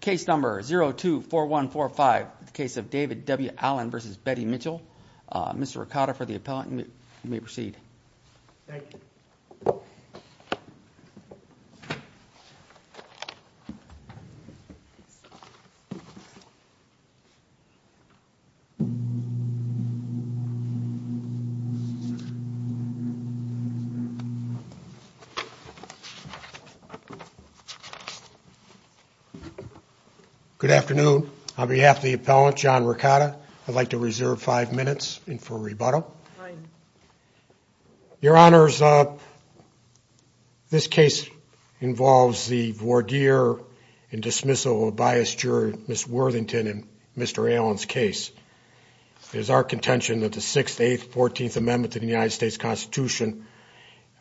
Case number 024145, the case of David W Allen v. Betty Mitchell. Mr. Ricotta for the appellant, you may proceed. Good afternoon. On behalf of the appellant, John Ricotta, I'd like to reserve five minutes for rebuttal. Your Honors, this case involves the voir dire and dismissal of biased juror Ms. Worthington in Mr. Allen's case. It is our contention that the 6th, 8th, 14th Amendment to the United States Constitution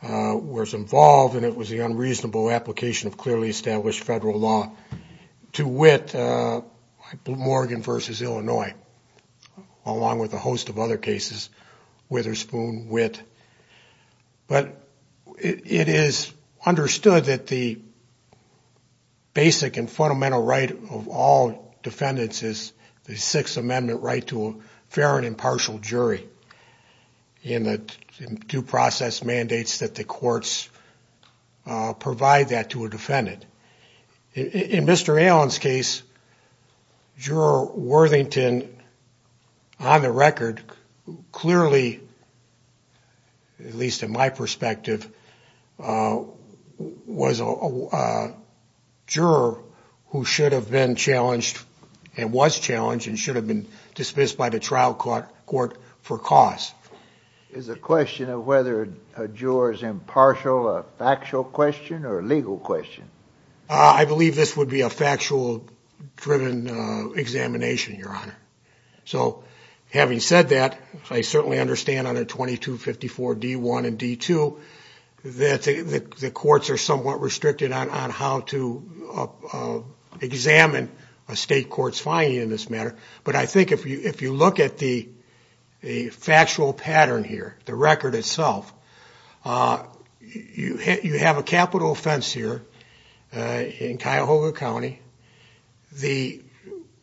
was involved and it was the unreasonable application of clearly established federal law to wit Morgan v. Illinois, along with a host of other cases, Witherspoon wit. But it is understood that the basic and fundamental right of all defendants is the 6th Amendment right to a fair and impartial jury and the due process mandates that the courts provide that to a defendant. In Mr. Allen's case, Juror Worthington on the record clearly, at least in my perspective, was a juror who should have been challenged and was challenged and should have been dismissed by the trial court for cause. Is the question of whether a juror is impartial a factual question or a legal question? I believe this would be a factual driven examination, Your Honor. So having said that, I certainly understand under 2254 D1 and D2 that the courts are somewhat restricted on how to examine a state court's finding in this matter. But I think if you look at the factual pattern here, the record itself, you have a capital offense here in Cuyahoga County. The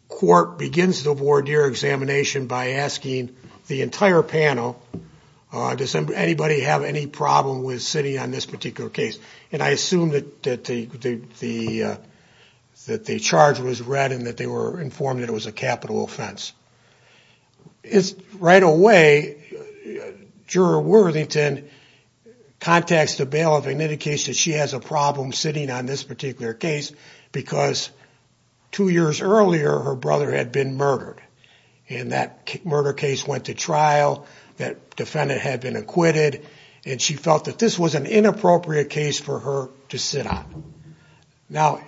court begins the voir dire examination by asking the entire panel, does anybody have any problem with sitting on this particular case? And I assume that the charge was read and that they were informed that it was a capital offense. Right away, Juror Worthington contacts the bailiff and indicates that she has a problem sitting on this particular case because two years earlier her brother had been murdered. And that murder case went to trial, that defendant had been acquitted, and she felt that this was an inappropriate case for her to sit on. Now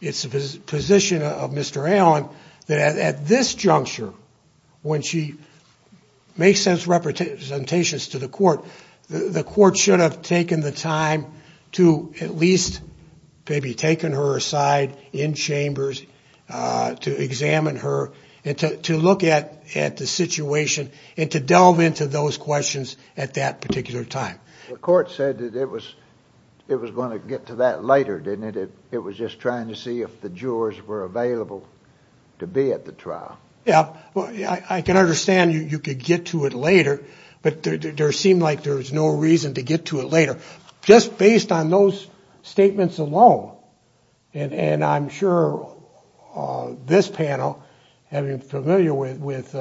it's the position of Mr. Allen that at this juncture, when she makes those representations to the court, the court should have taken the time to at least maybe taken her aside in chambers to examine her and to look at the situation and to delve into those questions at that particular time. The court said that it was going to get to that later, didn't it? It was just trying to see if the jurors were available to be at the trial. Yeah, I can understand you could get to it later, but there seemed like there was no reason to get to it later. Just based on those statements alone, and I'm sure this panel, having been familiar with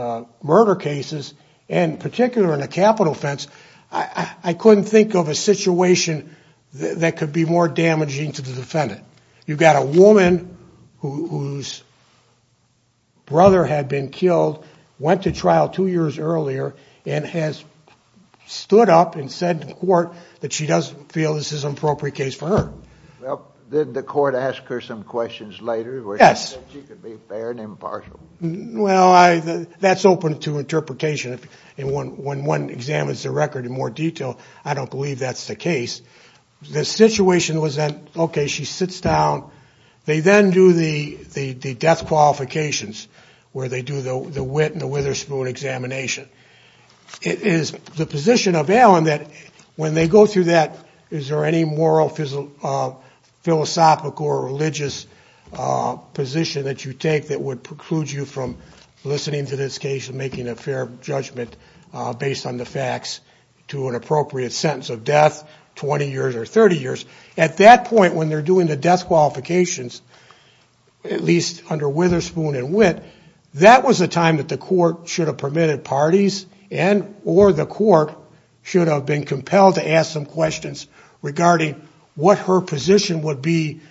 murder cases, and particularly in a capital offense, I couldn't think of a situation that could be more damaging to the defendant. You've got a woman whose brother had been killed, went to trial two years earlier, and has stood up and the court asked her some questions later? Yes. She could be fair and impartial. Well, that's open to interpretation. When one examines the record in more detail, I don't believe that's the case. The situation was that, okay, she sits down. They then do the death qualifications, where they do the wit and the Witherspoon examination. It is the position of Allen when they go through that, is there any moral, philosophical, or religious position that you take that would preclude you from listening to this case and making a fair judgment based on the facts to an appropriate sentence of death, 20 years or 30 years? At that point, when they're doing the death qualifications, at least under Witherspoon and Wit, that was a time that the compelled to ask some questions regarding what her position would be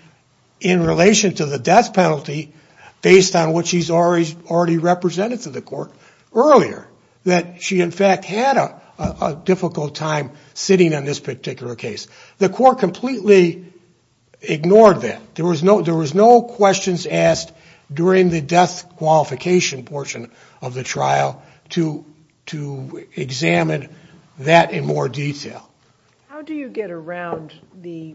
in relation to the death penalty based on what she's already represented to the court earlier. That she, in fact, had a difficult time sitting on this particular case. The court completely ignored that. There was no questions asked during the death qualification portion of the trial to examine that in more detail. How do you get around the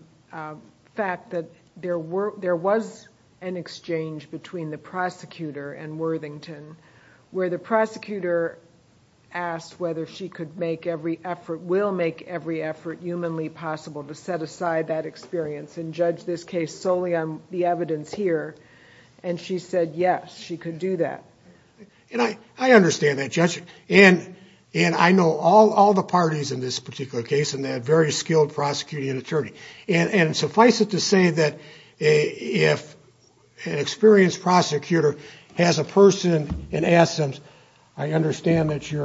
fact that there was an exchange between the prosecutor and Worthington, where the prosecutor asked whether she could make every effort, will make every effort humanly possible to set aside that experience and judge this case solely on the basis of her experience here? She said, yes, she could do that. I understand that, Judge. I know all the parties in this particular case, and they're very skilled prosecuting attorneys. Suffice it to say that if an experienced prosecutor has a person and asks them, I understand that you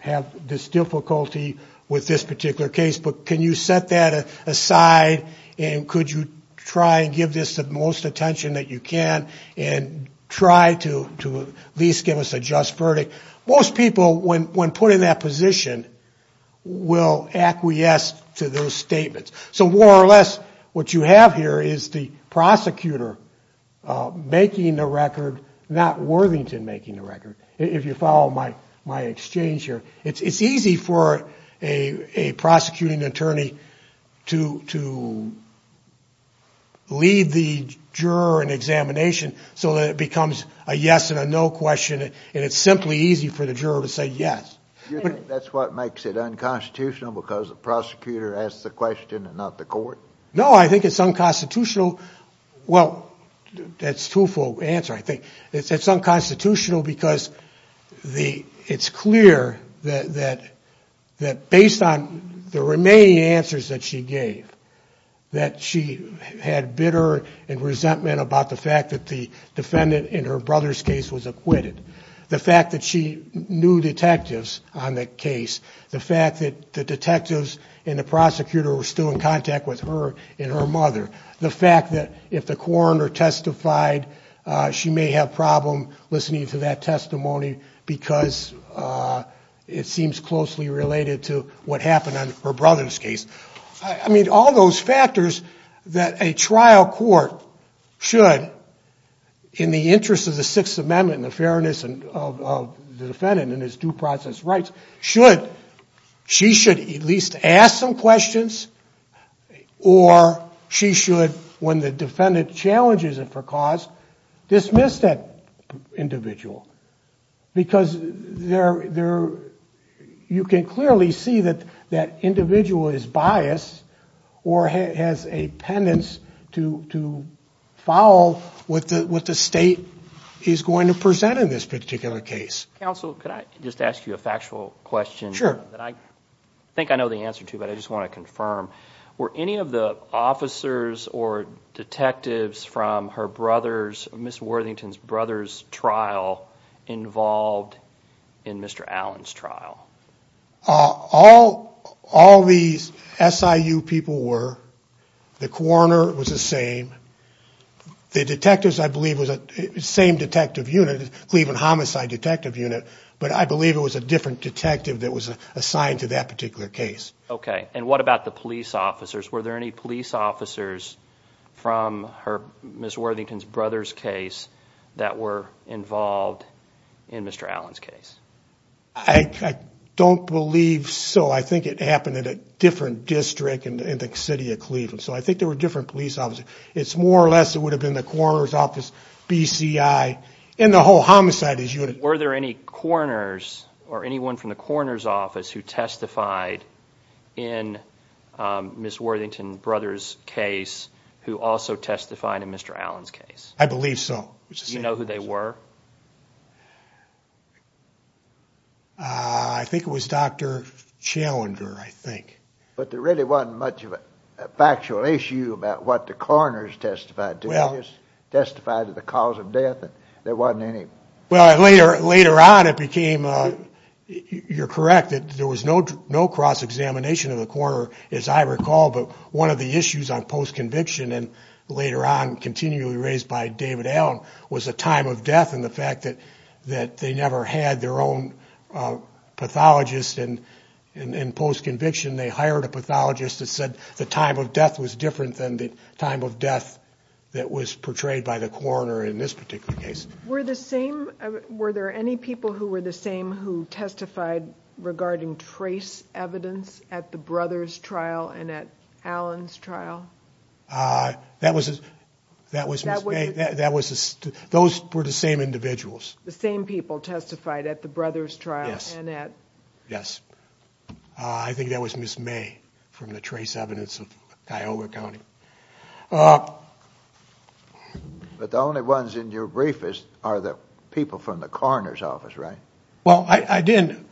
have this difficulty with this particular case, but can you set that aside, and could you try and give this the most attention that you can and try to at least give us a just verdict? Most people, when put in that position, will acquiesce to those statements. So more or less, what you have here is the prosecutor making the record, not Worthington making the record, if you follow my exchange here. It's easy for a prosecuting attorney to lead the juror in examination so that it becomes a yes and a no question, and it's simply easy for the juror to say yes. Do you think that's what makes it unconstitutional, because the prosecutor asked the question and not the court? No, I think it's unconstitutional. Well, that's a truthful answer, I think. It's unconstitutional because it's clear that based on the remaining answers that she gave, that she had bitter and resentment about the fact that the defendant in her brother's case was acquitted, the fact that she knew detectives on that case, the fact that the detectives and the prosecutor were still in contact with her and her mother, the fact that if the coroner testified she may have a problem listening to that testimony because it seems closely related to what happened on her brother's case. I mean, all those factors that a trial court should, in the interest of the Sixth Amendment and the fairness of the defendant and his due process rights, should, she should at least ask some questions or she should, when the defendant challenges it for that individual. Because there, you can clearly see that that individual is biased or has a pendence to follow what the state is going to present in this particular case. Counsel, could I just ask you a factual question? Sure. That I think I know the answer to, but I just want to confirm. Were any of the officers or detectives from her brother's, Ms. Worthington's brother's trial involved in Mr. Allen's trial? All these SIU people were. The coroner was the same. The detectives, I believe, was the same detective unit, Cleveland Homicide Detective Unit, but I believe it was a different detective that was assigned to that particular case. Okay. And what about the police officers? Were there any police officers from Ms. Worthington's brother's case that were involved in Mr. Allen's case? I don't believe so. I think it happened in a different district in the city of Cleveland. So I think there were different police officers. It's more or less, it would have been the coroner's office, BCI, and the whole homicides unit. Were there any coroners or anyone from the coroner's office who testified in Ms. Worthington's brother's case who also testified in Mr. Allen's case? I believe so. You know who they were? I think it was Dr. Challenger, I think. But there really wasn't much of a factual issue about what the coroner's testified to. He just testified to the cause of death. There wasn't any... Well, later on it became, you're correct, that there was no cross-examination of the coroner, as I recall, but one of the issues on post-conviction, and later on continually raised by David Allen, was the time of death and the fact that they never had their own pathologist. In post-conviction, they hired a pathologist that said the time of death was different than the time of death that was portrayed by the coroner in this particular case. Were there any people who were the same testified regarding trace evidence at the brother's trial and at Allen's trial? That was Ms. May. Those were the same individuals. The same people testified at the brother's trial? Yes. I think that was Ms. May from the trace evidence of Cuyahoga County. But the only ones in your brief are the people from the coroner's office, right? Well, I didn't...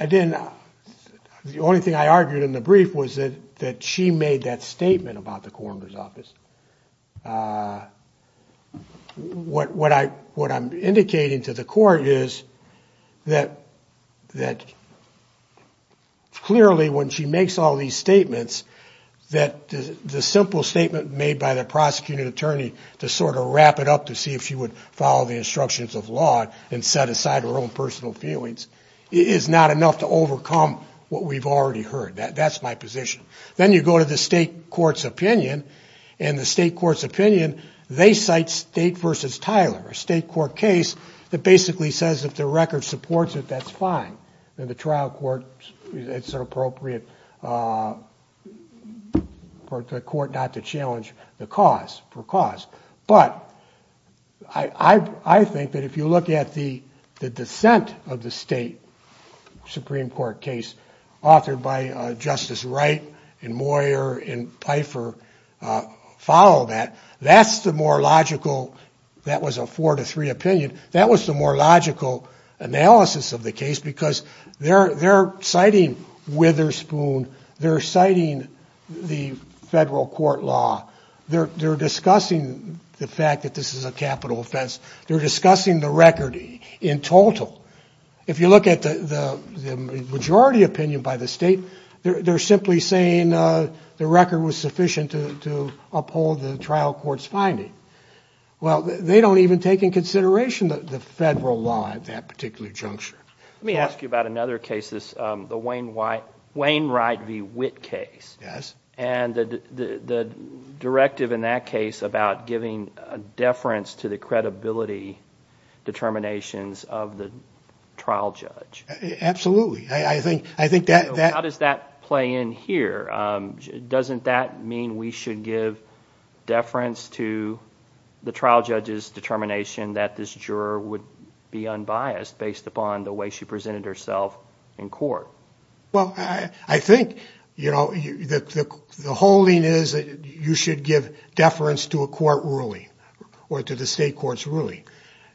The only thing I argued in the brief was that she made that statement about the coroner's office. What I'm indicating to the court is that clearly when she makes all these statements, that the simple statement made by the prosecuting attorney to sort of wrap it up to see if she would follow the instructions of law and set aside her own personal feelings is not enough to overcome what we've already heard. That's my position. Then you go to the state court's opinion, and the state court's opinion, they cite State v. Tyler, a state court case that basically says if the record supports it, that's fine. In the trial court, it's appropriate for the court not to challenge the cause for cause. But I think that if you look at the dissent of the state Supreme Court case authored by Justice Wright and Moyer and Pfeiffer follow that, that's the more logical... That was the analysis of the case because they're citing Witherspoon, they're citing the federal court law, they're discussing the fact that this is a capital offense, they're discussing the record in total. If you look at the majority opinion by the state, they're simply saying the record was sufficient to uphold the trial court's finding. Well, they don't even take into consideration the federal law at that particular juncture. Let me ask you about another case, the Wayne Wright v. Witt case. Yes. And the directive in that case about giving deference to the credibility determinations of the trial judge. Absolutely. I think that... How does that play in here? Doesn't that mean we should give deference to the trial judge's determination that this juror would be unbiased based upon the way she presented herself in court? Well, I think, you know, the holding is that you should give deference to a court ruling or to the state court's ruling.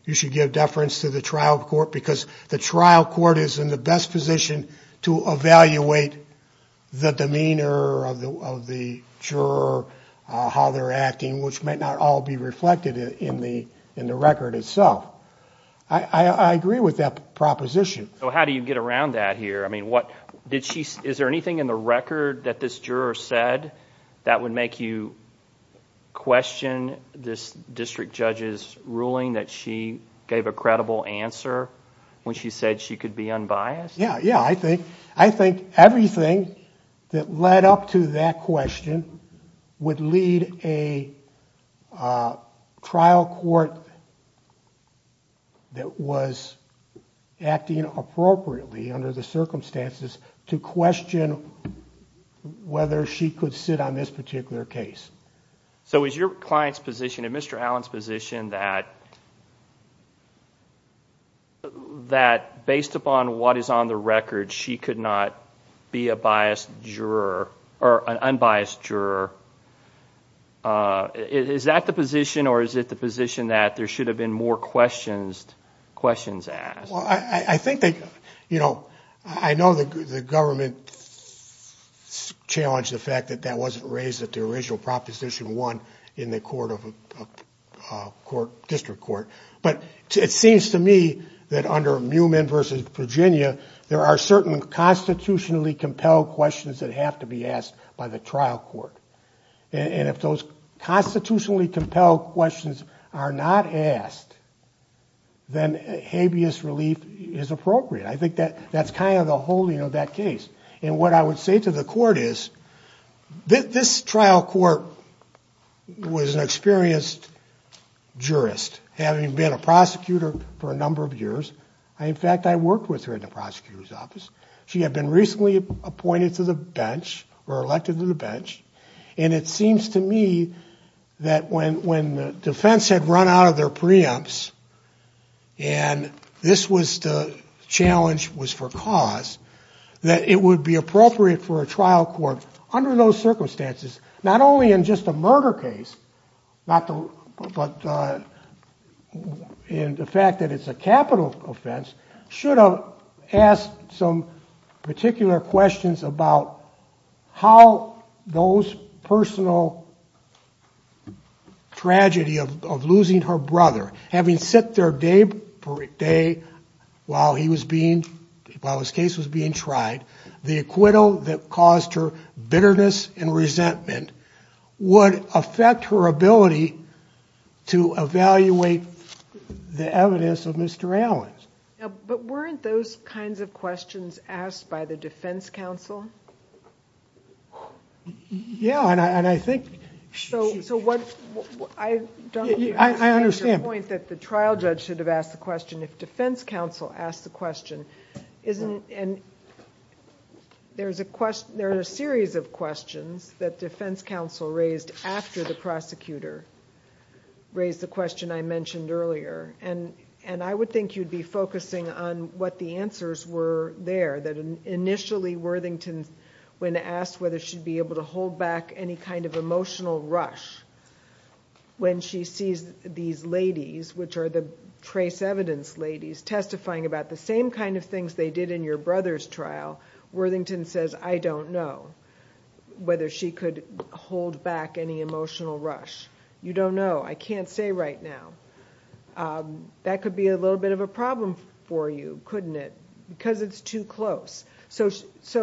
You should give deference to the trial court is in the best position to evaluate the demeanor of the juror, how they're acting, which might not all be reflected in the record itself. I agree with that proposition. So how do you get around that here? I mean, is there anything in the record that this juror said that would make you question this district judge's ruling that she gave a credible answer when she said she could be unbiased? Yeah, yeah. I think everything that led up to that question would lead a trial court that was acting appropriately under the circumstances to question whether she could sit on this particular case. So is your client's position and Mr. Allen's position that based upon what is on the record, she could not be a biased juror or an unbiased juror? Is that the position or is it the position that there should have been more questions asked? Well, I think that, you know, I know the government challenged the fact that that wasn't raised at the original Proposition 1 in the district court. But it seems to me that under Mewman v. Virginia, there are certain constitutionally compelled questions that have to be asked by the trial court. And if those constitutionally compelled questions are not asked, then habeas relief is appropriate. I think that that's kind of the whole, you know, that case. And what I would say to the trial court was an experienced jurist, having been a prosecutor for a number of years. In fact, I worked with her in the prosecutor's office. She had been recently appointed to the bench or elected to the bench. And it seems to me that when the defense had run out of their preempts and this was the challenge was for cause, that it would be appropriate for a trial court under those preempts, not only in just a murder case, but in the fact that it's a capital offense, should have asked some particular questions about how those personal tragedy of losing her brother, having sit there day per day while he was being, while his case was being tried, the acquittal that caused her would affect her ability to evaluate the evidence of Mr. Allen's. But weren't those kinds of questions asked by the defense counsel? Yeah, and I think... So what I don't understand the point that the trial judge should have asked the question if defense counsel asked the question, isn't and there's a question, there are a series of questions that defense counsel raised after the prosecutor raised the question I mentioned earlier. And I would think you'd be focusing on what the answers were there. That initially Worthington, when asked whether she'd be able to hold back any kind of emotional rush when she sees these ladies, which are the trace evidence ladies, testifying about the same kind of things they did in your brother's case, you don't know whether she could hold back any emotional rush. You don't know. I can't say right now. That could be a little bit of a problem for you, couldn't it? Because it's too close. So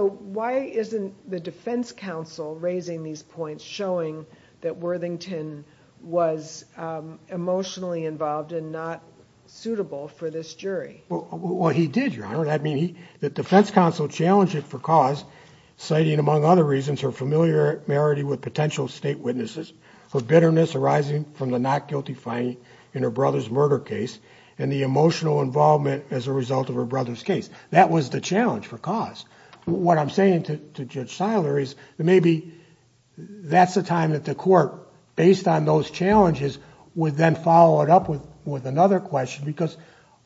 why isn't the defense counsel raising these points showing that Worthington was emotionally involved and not suitable for this jury? Well, he did, Your Honor. I mean, the defense counsel challenged it for cause, citing among other reasons, her familiarity with potential state witnesses, her bitterness arising from the not guilty finding in her brother's murder case, and the emotional involvement as a result of her brother's case. That was the challenge for cause. What I'm saying to Judge Siler is maybe that's the time that the court, based on those challenges, would then follow it up with another question, because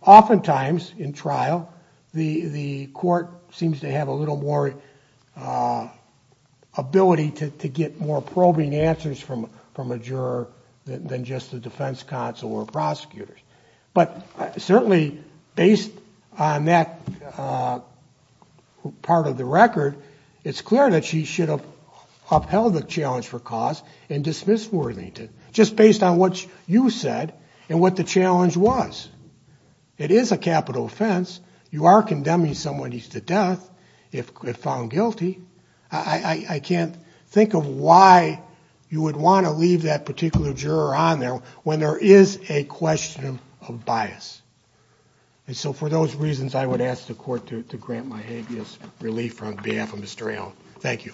oftentimes in trial, the court seems to have a little more ability to get more probing answers from a juror than just the defense counsel or prosecutors. But certainly, based on that part of the record, it's clear that she should have upheld the challenge for cause and dismissed Worthington, just based on what you said and what the challenge was. It is a capital offense. You are condemning someone who's to death if found guilty. I can't think of why you would want to leave that particular juror on there when there is a question of bias. And so for those reasons, I would ask the court to grant my habeas relief on behalf of Mr. Allen. Thank you.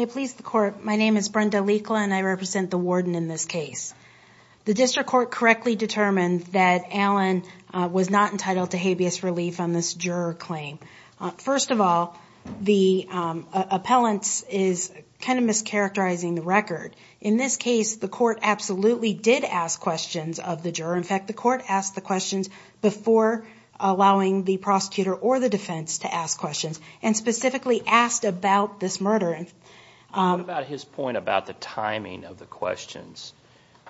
I represent the warden in this case. The district court correctly determined that Allen was not entitled to habeas relief on this juror claim. First of all, the appellant is kind of mischaracterizing the record. In this case, the court absolutely did ask questions of the juror. In fact, the court asked the questions before allowing the prosecutor or the defense to ask What about his point about the timing of the questions?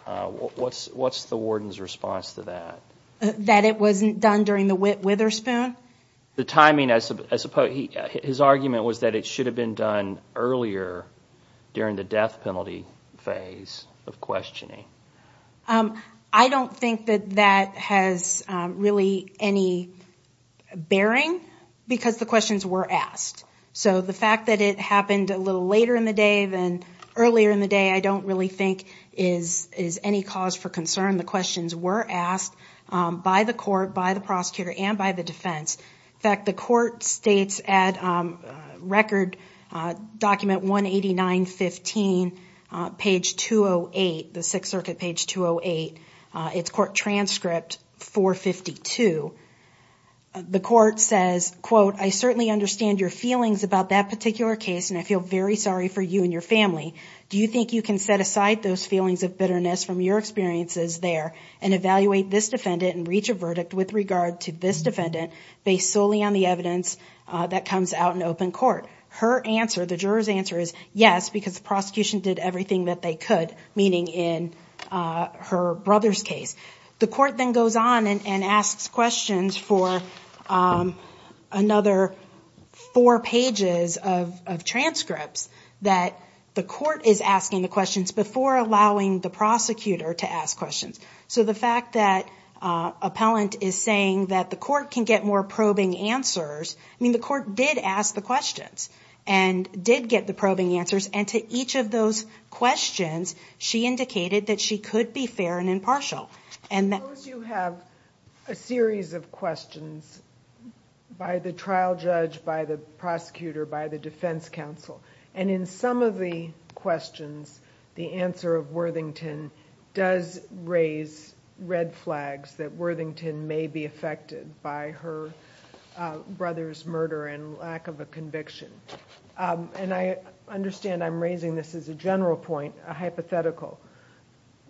What's the warden's response to that? That it wasn't done during the Whit Witherspoon? His argument was that it should have been done earlier during the death penalty phase of questioning. I don't think that that has really any bearing because the questions were asked. So the fact that it happened a little later in the day than earlier in the day, I don't really think is any cause for concern. The questions were asked by the court, by the It's court transcript 452. The court says, quote, I certainly understand your feelings about that particular case and I feel very sorry for you and your family. Do you think you can set aside those feelings of bitterness from your experiences there and evaluate this defendant and reach a verdict with regard to this defendant based solely on the evidence that comes out in open court? Her answer, the juror's answer is yes, because the prosecution did everything that they could, meaning in her brother's case. The court then goes on and asks questions for another four pages of transcripts that the court is asking the questions before allowing the prosecutor to ask questions. So the fact that appellant is saying that the court can get more probing answers. I mean the court did ask the questions and did get the probing answers and to each of those questions she indicated that she could be fair and impartial. Suppose you have a series of questions by the trial judge, by the prosecutor, by the defense counsel and in some of the cases there's murder and lack of a conviction. And I understand I'm raising this as a general point, a hypothetical.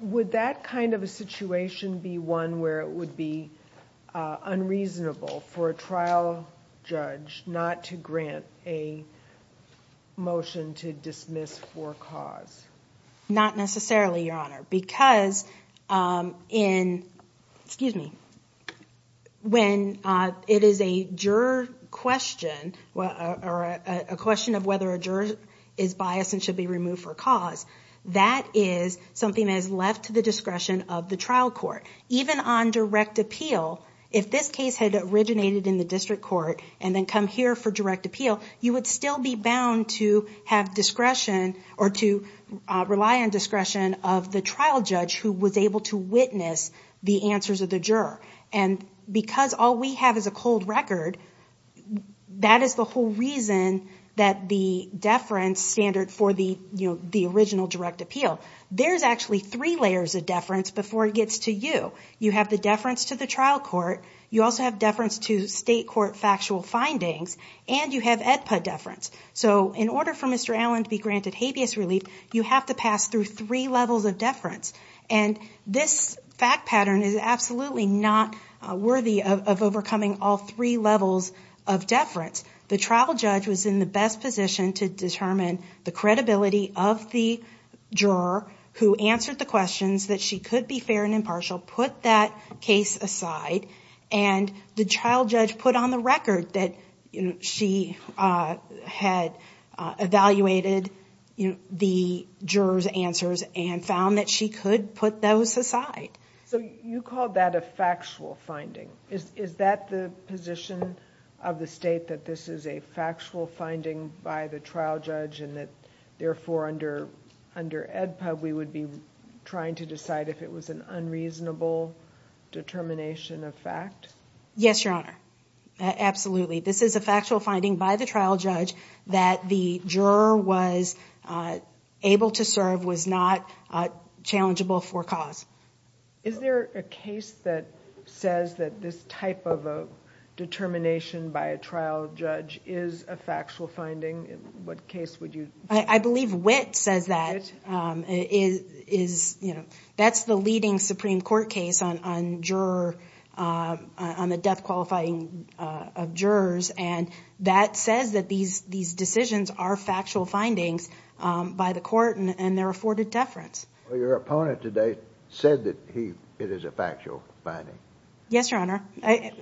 Would that kind of a situation be one where it would be unreasonable for a trial judge not to grant a motion to dismiss for cause? Not necessarily, your honor, because when it is a juror question of whether a juror is biased and should be removed for cause, that is something that is left to the discretion of the trial court. Even on direct appeal, if this case had originated in the district court and then come here for direct appeal, you would rely on discretion of the trial judge who was able to witness the answers of the juror. And because all we have is a cold record, that is the whole reason that the deference standard for the original direct appeal. There's actually three layers of deference before it gets to you. You have the deference to the trial court, you also have deference to state court factual findings, and you have AEDPA deference. So in order for Mr. Allen to be granted habeas relief, you have to pass through three levels of deference. And this fact pattern is absolutely not worthy of overcoming all three levels of deference. The trial judge was in the best position to determine the credibility of the juror who answered the questions that she could be fair and put that case aside. And the trial judge put on the record that she had evaluated the juror's answers and found that she could put those aside. So you called that a factual finding. Is that the position of the state, that this is a factual finding by the trial judge and that therefore under AEDPA we would be trying to decide if it was an unreasonable determination of fact? Yes, Your Honor. Absolutely. This is a factual finding by the trial judge that the juror was able to serve, was not challengeable for cause. Is there a case that says that this type of a determination by a trial judge is a factual finding? I believe Witt says that. That's the leading Supreme Court case on the death qualifying of jurors, and that says that these decisions are factual findings by the court and they're afforded deference. Your opponent today said that it is a factual finding. Yes, Your Honor.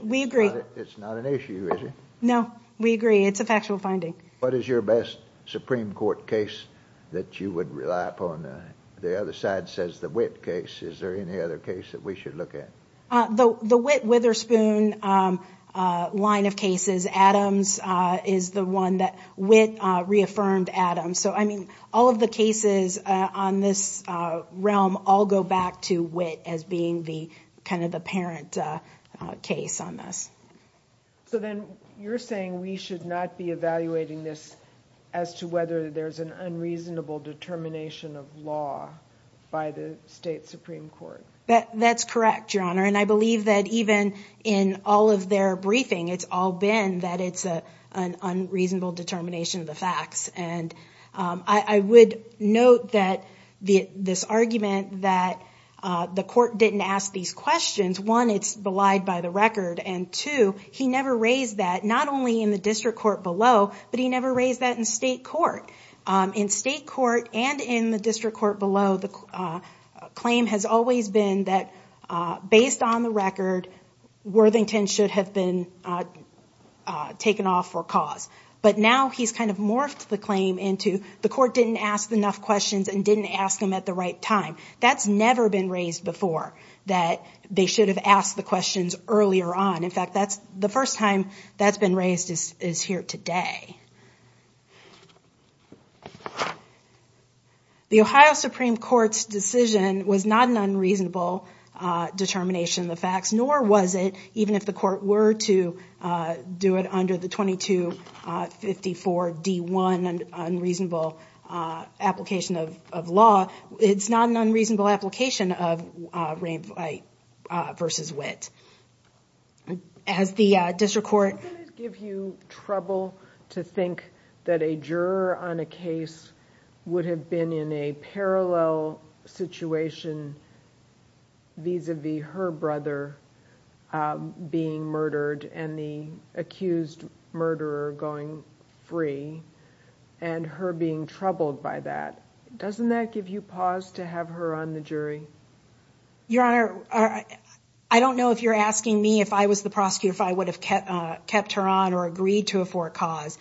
We agree. It's not an issue, is it? No, we agree. It's a factual finding. What is your best Supreme Court case that you would rely upon? The other side says the Witt case. Is there any other case that we should look at? The Witt-Witherspoon line of cases, Adams, is the one that Witt reaffirmed Adams. All of the cases on this realm all go back to Witt as being the parent case on this. You're saying we should not be evaluating this as to whether there's an unreasonable determination of law by the state Supreme Court? That's correct, Your Honor. I believe that even in all of their briefing, it's all been that it's an unreasonable determination of law. I would note this argument that the court didn't ask these questions. One, it's belied by the record, and two, he never raised that, not only in the district court below, but he never raised that in state court. In state court and in the district court below, the claim has always been that, based on the record, Worthington should have been taken off for cause. But now he's morphed the claim into the court didn't ask enough questions and didn't ask them at the right time. That's never been raised before, that they should have asked the questions earlier on. In fact, the first time that's been raised is here today. The Ohio Supreme Court's decision was not an unreasonable determination of the facts, nor was it, even if the court were to do it under the 2254 D1 unreasonable application of law, it's not an unreasonable application of rape v. wit. Doesn't that give you trouble to think that a juror on a case would have been in a parallel situation vis-a-vis her brother being murdered and the accused murderer going free and her being troubled by that? Doesn't that give you pause to have her on the jury? Your Honor, I don't know if you're asking me if I was the prosecutor if I would have kept her on or agreed to afford cause,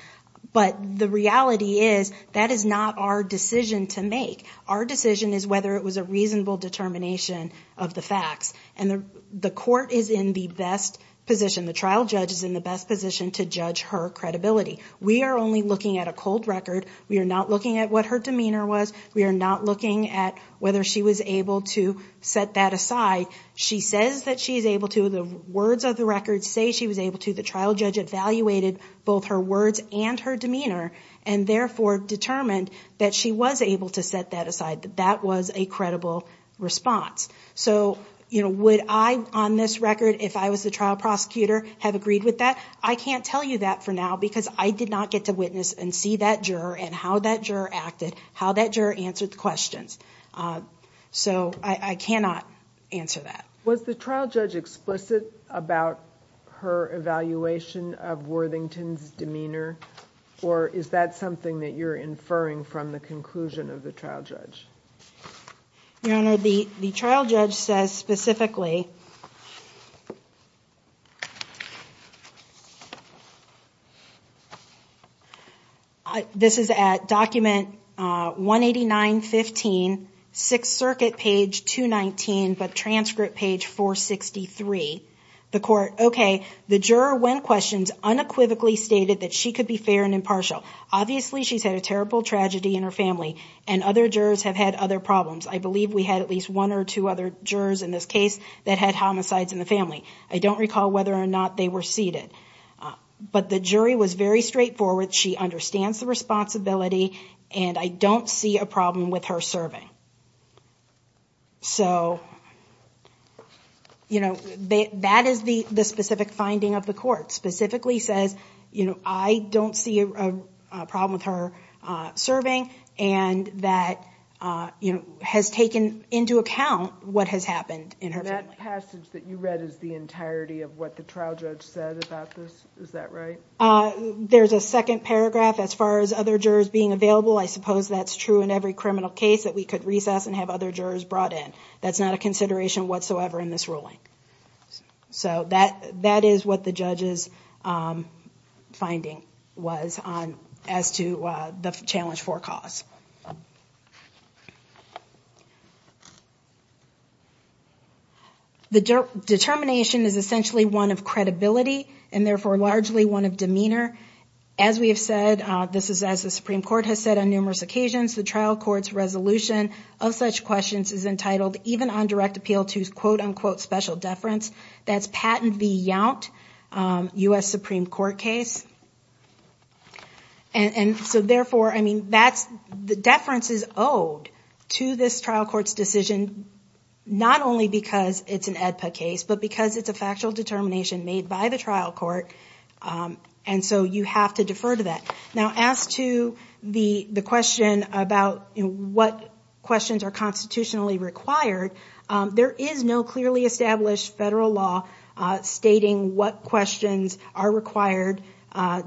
but the reality is that is not our decision to make. Our decision is whether it was a reasonable determination of the facts, and the court is in the best position, the trial judge is in the best position to judge her credibility. We are only looking at a cold record, we are not looking at what her demeanor was, we are not looking at whether she was able to set that aside. She says that she's able to, the words of the record say she was able to, the trial judge evaluated both her words and her demeanor, and therefore determined that she was able to set that aside, that that was a credible response. So would I on this record if I was the trial prosecutor have agreed with that? I can't tell you that for now because I did not get to witness and see that juror and how that juror acted, how that juror answered the questions. So I cannot answer that. Was the trial judge explicit about her evaluation of Worthington's demeanor, or is that something that you're inferring from the conclusion of the trial judge? Your Honor, the trial judge says specifically, this is at document 189.15, Sixth Circuit page 219, but transcript page 463. The court, okay, the juror when questioned unequivocally stated that she could be fair and impartial. Obviously she's had a terrible tragedy in her family, and other jurors have had other problems. I believe we had at least one or two other jurors in this case that had homicides in the family. I don't recall whether or not they were seated. But the jury was very straightforward, she understands the responsibility, and I don't see a problem with her serving. So, you know, that is the specific finding of the court. Specifically says, you know, I don't see a problem with her serving, and that has taken into account what has happened in her family. That passage that you read is the entirety of what the trial judge said about this, is that right? There's a second paragraph as far as other jurors being available. I suppose that's true in every criminal case that we could recess and have other jurors brought in. That's not a consideration whatsoever in this ruling. So that is what the judge's finding was as to the challenge for cause. The determination is essentially one of credibility, and therefore largely one of demeanor. As we have said, this is as the Supreme Court has said on numerous occasions, the trial court's resolution of such questions is entitled, even on direct appeal, to quote-unquote special deference. That's Patent v. Yount, U.S. Supreme Court case. And so therefore, I mean, the deference is owed to this trial court's decision, not only because it's an AEDPA case, but because it's a factual determination made by the trial court, and so you have to defer to that. Now, as to the question about what questions are constitutionally required, there is no clearly established federal law stating what questions are required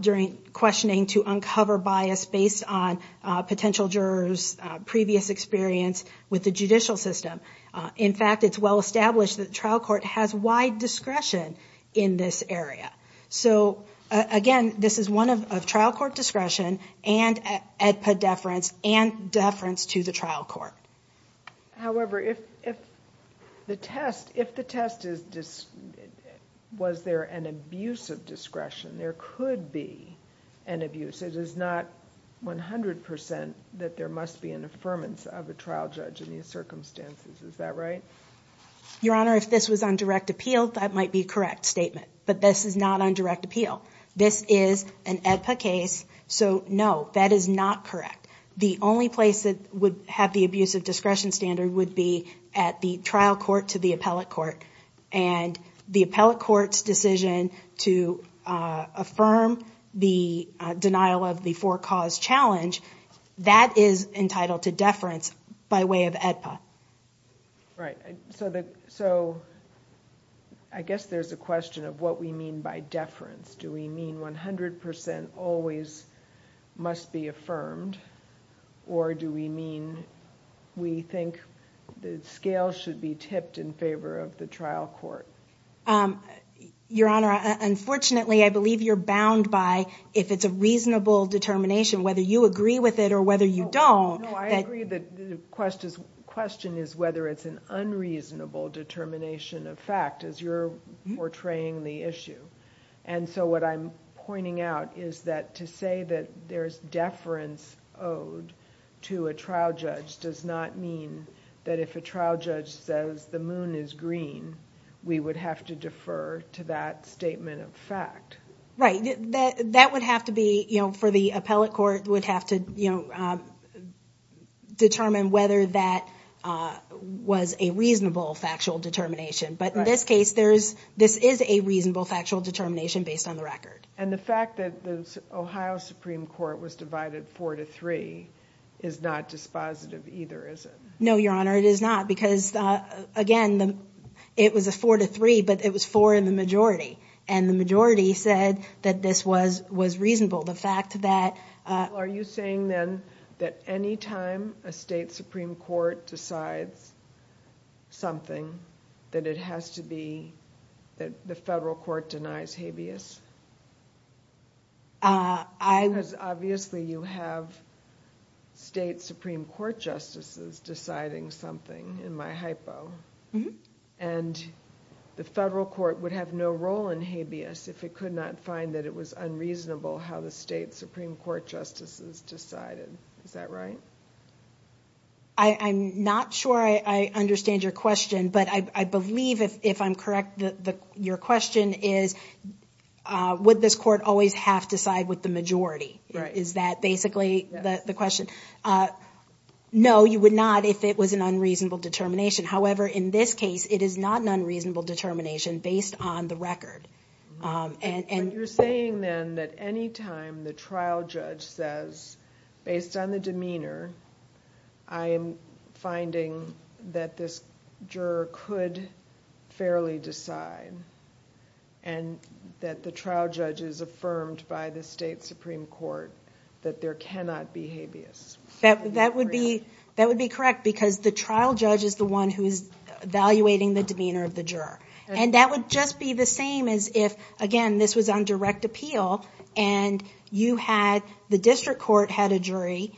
during questioning to uncover bias based on potential jurors' previous experience with the judicial system. In fact, it's well established that the trial court has wide discretion in this area. So again, this is one of trial court discretion and AEDPA deference and deference to the trial court. However, if the test is, was there an abuse of discretion? There could be an abuse. It is not 100% that there must be an affirmance of a trial judge in these circumstances. Is that right? Your Honor, if this was on direct appeal, that might be a correct statement. But this is not on direct appeal. This is an AEDPA case, so no, that is not correct. The only place that would have the abuse of discretion standard would be at the trial court to the appellate court. And the appellate court's decision to affirm the denial of the four cause challenge, that is entitled to deference by way of AEDPA. Right. So I guess there's a question of what we mean by deference. Do we mean 100% always must be affirmed? Or do we mean we think the scale should be tipped in favor of the trial court? Your Honor, unfortunately, I believe you're bound by if it's a reasonable determination, whether you agree with it or whether you don't. No, I agree that the question is whether it's an unreasonable determination of fact as you're portraying the issue. And so what I'm pointing out is that to say that there's deference owed to a trial judge does not mean that if a trial judge says the moon is green, we would have to defer to that statement of fact. Right. That would have to be, you know, for the appellate court would have to, you know, determine whether that was a reasonable factual determination. But in this case, this is a reasonable factual determination based on the record. And the fact that the Ohio Supreme Court was divided 4 to 3 is not dispositive either, is it? No, Your Honor, it is not because, again, it was a 4 to 3, but it was 4 in the majority. And the majority said that this was reasonable. Well, are you saying then that any time a state Supreme Court decides something, that it has to be that the federal court denies habeas? Because obviously you have state Supreme Court justices deciding something, in my hypo. And the federal court would have no role in habeas if it could not find that it was unreasonable how the state Supreme Court justices decided. Is that right? I'm not sure I understand your question, but I believe if I'm correct, your question is, would this court always have to side with the majority? Right. Is that basically the question? No, you would not if it was an unreasonable determination. However, in this case, it is not an unreasonable determination based on the record. But you're saying then that any time the trial judge says, based on the demeanor, I am finding that this juror could fairly decide, and that the trial judge is affirmed by the state Supreme Court that there cannot be habeas. That would be correct because the trial judge is the one who is evaluating the demeanor of the juror. And that would just be the same as if, again, this was on direct appeal, and the district court had a jury,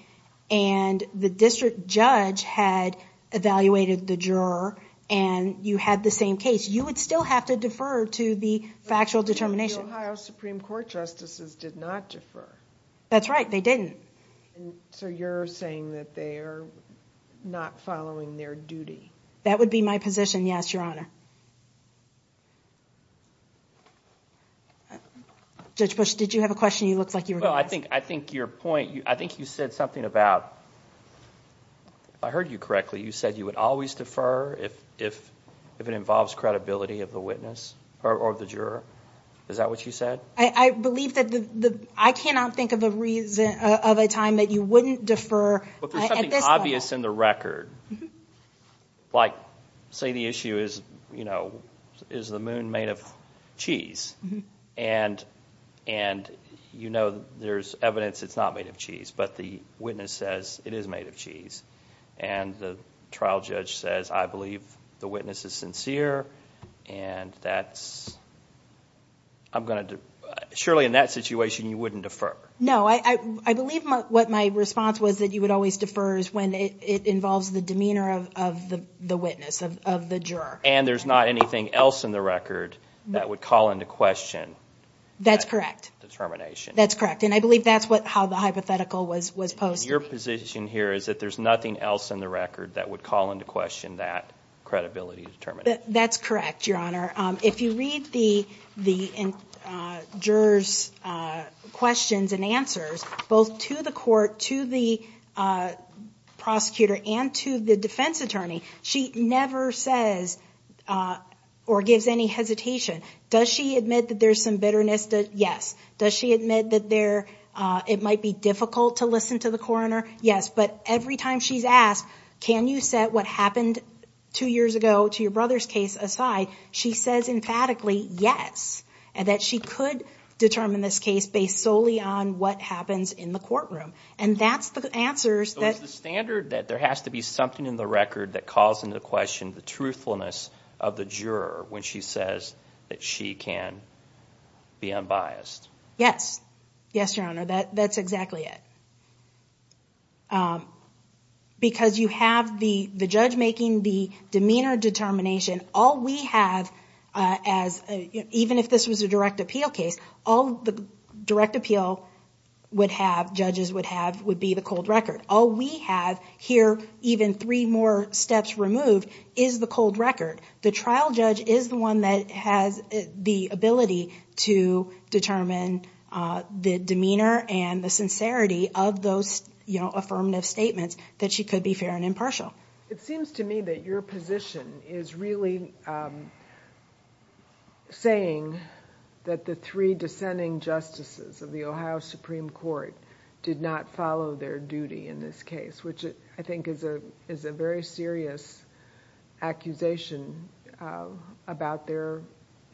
and the district judge had evaluated the juror, and you had the same case. You would still have to defer to the factual determination. But the Ohio Supreme Court justices did not defer. That's right, they didn't. So you're saying that they are not following their duty. That would be my position, yes, Your Honor. Judge Bush, did you have a question you looked like you were going to ask? Well, I think your point, I think you said something about, if I heard you correctly, you said you would always defer if it involves credibility of the witness or the juror. Is that what you said? I believe that the, I cannot think of a reason, of a time that you wouldn't defer. But there's something obvious in the record. Like, say the issue is, you know, is the moon made of cheese? And you know there's evidence it's not made of cheese, but the witness says it is made of cheese. And the trial judge says, I believe the witness is sincere, and that's, I'm going to, surely in that situation you wouldn't defer. No, I believe what my response was that you would always defer when it involves the demeanor of the witness, of the juror. And there's not anything else in the record that would call into question that determination. That's correct. That's correct, and I believe that's how the hypothetical was posed. Your position here is that there's nothing else in the record that would call into question that credibility determination. That's correct, Your Honor. If you read the juror's questions and answers, both to the court, to the prosecutor, and to the defense attorney, she never says or gives any hesitation. Does she admit that there's some bitterness? Yes. Does she admit that it might be difficult to listen to the coroner? Yes. But every time she's asked, can you set what happened two years ago to your brother's case aside, she says emphatically yes, and that she could determine this case based solely on what happens in the courtroom. And that's the answers that... So it's the standard that there has to be something in the record that calls into question the truthfulness of the juror when she says that she can be unbiased. Yes. Yes, Your Honor. That's exactly it. Because you have the judge making the demeanor determination. All we have, even if this was a direct appeal case, all the direct appeal judges would have would be the cold record. All we have here, even three more steps removed, is the cold record. The trial judge is the one that has the ability to determine the demeanor and the sincerity of those affirmative statements that she could be fair and impartial. It seems to me that your position is really saying that the three dissenting justices of the Ohio Supreme Court did not follow their duty in this case, which I think is a very serious accusation about their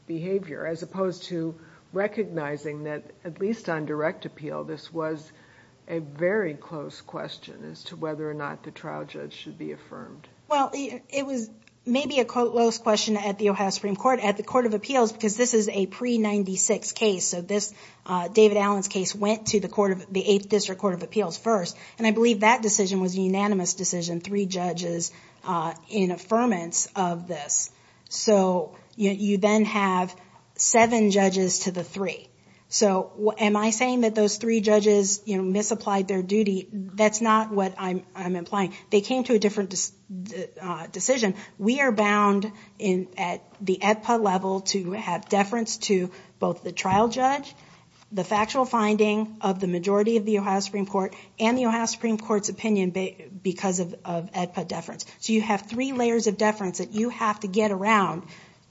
behavior, as opposed to recognizing that, at least on direct appeal, this was a very close question as to whether or not the trial judge should be affirmed. Well, it was maybe a close question at the Ohio Supreme Court, at the Court of Appeals, because this is a pre-'96 case. David Allen's case went to the Eighth District Court of Appeals first, and I believe that decision was a unanimous decision, three judges in affirmance of this. You then have seven judges to the three. Am I saying that those three judges misapplied their duty? That's not what I'm implying. They came to a different decision. We are bound at the AEDPA level to have deference to both the trial judge, the factual finding of the majority of the Ohio Supreme Court, and the Ohio Supreme Court's opinion because of AEDPA deference. So you have three layers of deference that you have to get around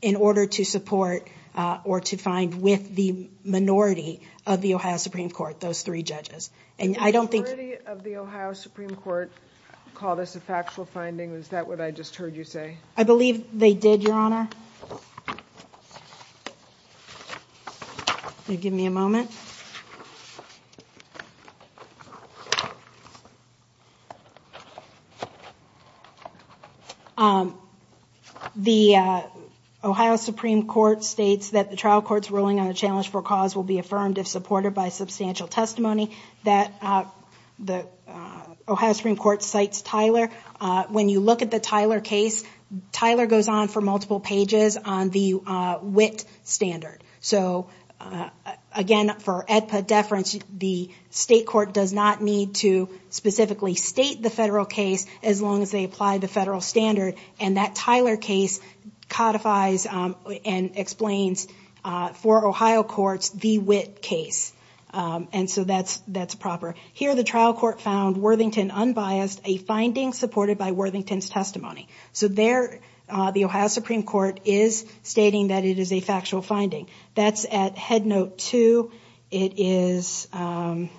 in order to support or to find with the minority of the Ohio Supreme Court, those three judges. The majority of the Ohio Supreme Court called this a factual finding. Is that what I just heard you say? I believe they did, Your Honor. Can you give me a moment? The Ohio Supreme Court states that the trial court's ruling on a challenge for cause will be affirmed if supported by substantial testimony. The Ohio Supreme Court cites Tyler. When you look at the Tyler case, Tyler goes on for multiple pages on the Witt standard. So again, for AEDPA deference, the state court does not need to specifically state the federal case as long as they apply the federal standard. And that Tyler case codifies and explains for Ohio courts the Witt case. And so that's proper. Here, the trial court found Worthington unbiased, a finding supported by Worthington's testimony. So there, the Ohio Supreme Court is stating that it is a factual finding. That's at head note two. It is, I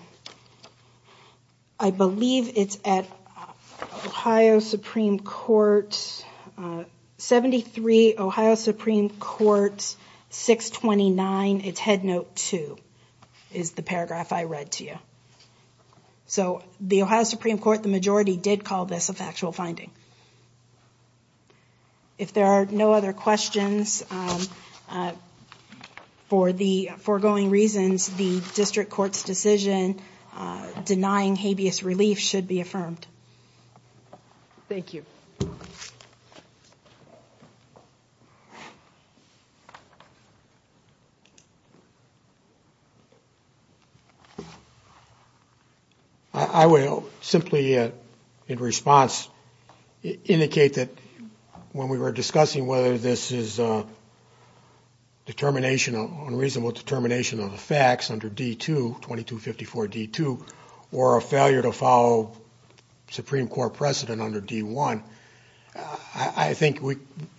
believe it's at Ohio Supreme Court, 73, Ohio Supreme Court, 629. It's head note two is the paragraph I read to you. So the Ohio Supreme Court, the majority did call this a factual finding. If there are no other questions, for the foregoing reasons, the district court's decision denying habeas relief should be affirmed. Thank you. I will simply, in response, indicate that when we were discussing whether this is a determination, unreasonable determination of the facts under D2, 2254 D2, or a failure to follow Supreme Court precedent under D1, I think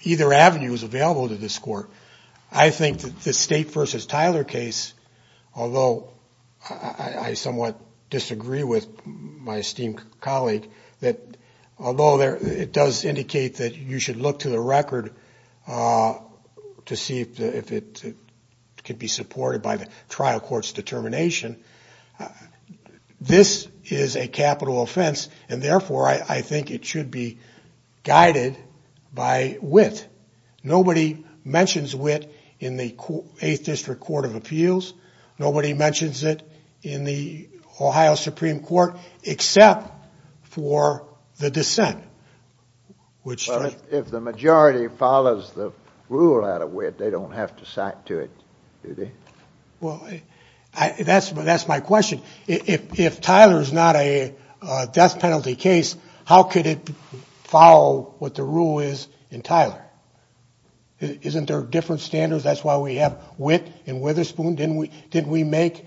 either avenue is available to this court. I think that the state versus Tyler case, although I somewhat disagree with my esteemed colleague, although it does indicate that you should look to the record to see if it can be supported by the trial court's determination, this is a capital offense, and therefore I think it should be guided by wit. Nobody mentions wit in the 8th District Court of Appeals. Nobody mentions it in the Ohio Supreme Court except for the dissent. If the majority follows the rule out of wit, they don't have to cite to it, do they? Well, that's my question. If Tyler is not a death penalty case, how could it follow what the rule is in Tyler? Isn't there different standards? That's why we have wit in Witherspoon. Didn't we make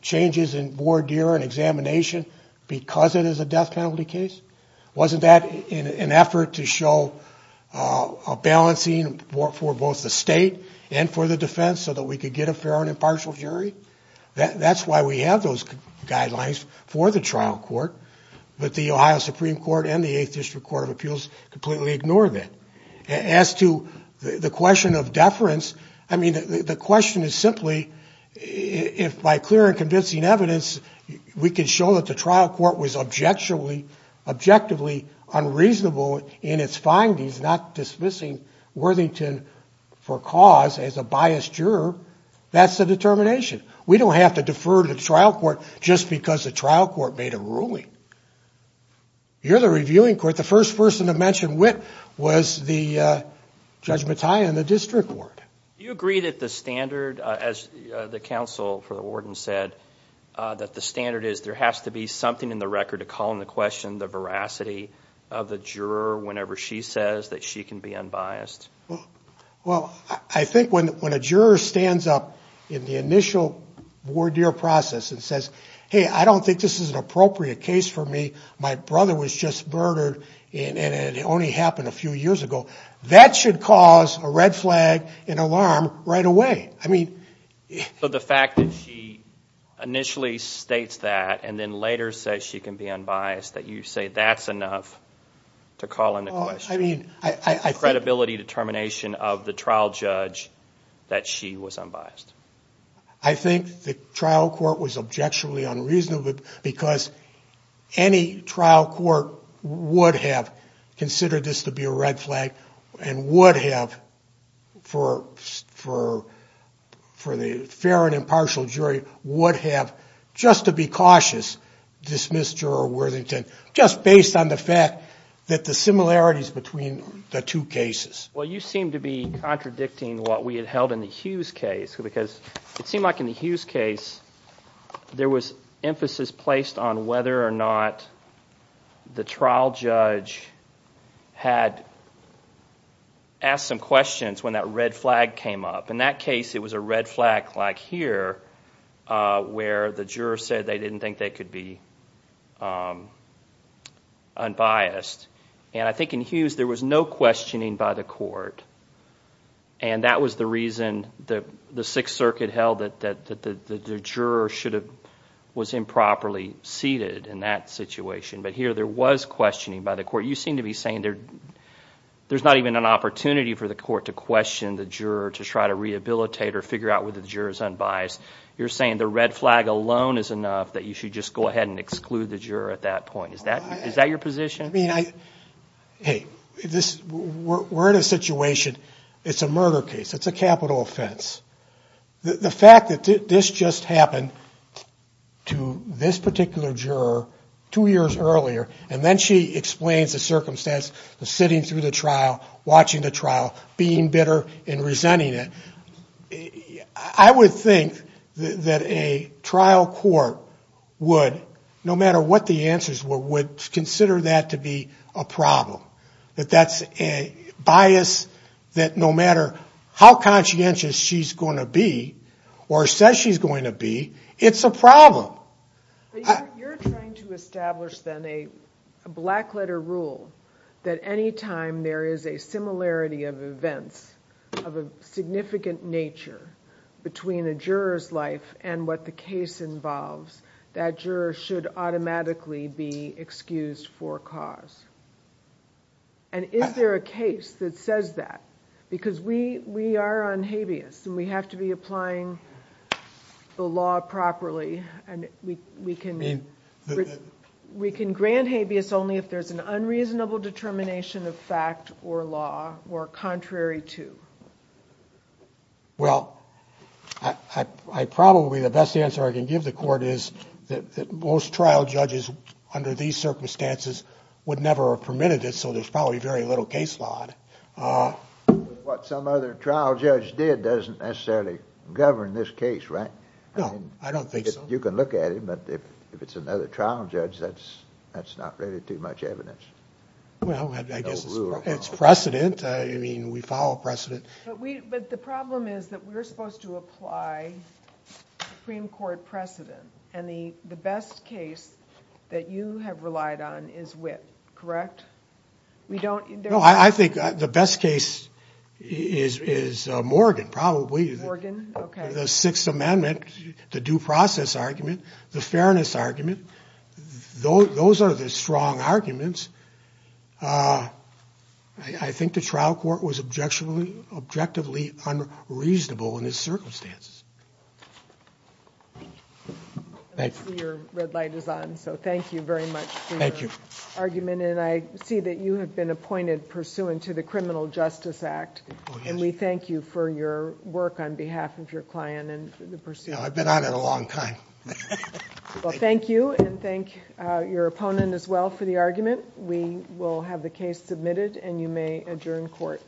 changes in voir dire and examination because it is a death penalty case? Wasn't that an effort to show a balancing for both the state and for the defense so that we could get a fair and impartial jury? That's why we have those guidelines for the trial court, but the Ohio Supreme Court and the 8th District Court of Appeals completely ignore that. As to the question of deference, the question is simply if by clear and convincing evidence we can show that the trial court was objectively unreasonable in its findings, not dismissing Worthington for cause as a biased juror, that's the determination. We don't have to defer to the trial court just because the trial court made a ruling. You're the reviewing court. The first person to mention wit was Judge Mattia in the district court. Do you agree that the standard, as the counsel for the warden said, that the standard is there has to be something in the record to call into question the veracity of the juror whenever she says that she can be unbiased? Well, I think when a juror stands up in the initial voir dire process and says, hey, I don't think this is an appropriate case for me. My brother was just murdered, and it only happened a few years ago. That should cause a red flag, an alarm right away. So the fact that she initially states that and then later says she can be unbiased, that you say that's enough to call into question the credibility determination of the trial judge that she was unbiased? I think the trial court was objectively unreasonable because any trial court would have considered this to be a red flag and would have, for the fair and impartial jury, would have, just to be cautious, dismissed Juror Worthington just based on the fact that the similarities between the two cases. Well, you seem to be contradicting what we had held in the Hughes case because it seemed like in the Hughes case there was emphasis placed on whether or not the trial judge had asked some questions when that red flag came up. In that case, it was a red flag like here where the juror said they didn't think they could be unbiased. And I think in Hughes there was no questioning by the court and that was the reason the Sixth Circuit held that the juror was improperly seated in that situation. But here there was questioning by the court. You seem to be saying there's not even an opportunity for the court to question the juror to try to rehabilitate or figure out whether the juror is unbiased. You're saying the red flag alone is enough that you should just go ahead and exclude the juror at that point. Is that your position? Hey, we're in a situation. It's a murder case. It's a capital offense. The fact that this just happened to this particular juror two years earlier and then she explains the circumstance of sitting through the trial, watching the trial, being bitter and resenting it. I would think that a trial court would, no matter what the answers were, would consider that to be a problem. That that's a bias that no matter how conscientious she's going to be or says she's going to be, it's a problem. You're trying to establish then a black letter rule that any time there is a similarity of events, of a significant nature between a juror's life and what the case involves, that juror should automatically be excused for cause. Is there a case that says that? Because we are on habeas and we have to be applying the law properly. We can grant habeas only if there's an unreasonable determination of fact or law or contrary to. Well, probably the best answer I can give the court is that most trial judges under these circumstances would never have permitted it, so there's probably very little case law. What some other trial judge did doesn't necessarily govern this case, right? No, I don't think so. You can look at it, but if it's another trial judge, that's not really too much evidence. Well, I guess it's precedent. I mean, we follow precedent. But the problem is that we're supposed to apply Supreme Court precedent, and the best case that you have relied on is Witt, correct? No, I think the best case is Morgan, probably. Morgan, okay. The Sixth Amendment, the due process argument, the fairness argument, those are the strong arguments. I think the trial court was objectively unreasonable in these circumstances. Thank you. I see your red light is on, so thank you very much for your argument. Thank you. And I see that you have been appointed pursuant to the Criminal Justice Act, and we thank you for your work on behalf of your client and the pursuant. I've been on it a long time. Well, thank you, and thank your opponent as well for the argument. We will have the case submitted, and you may adjourn court.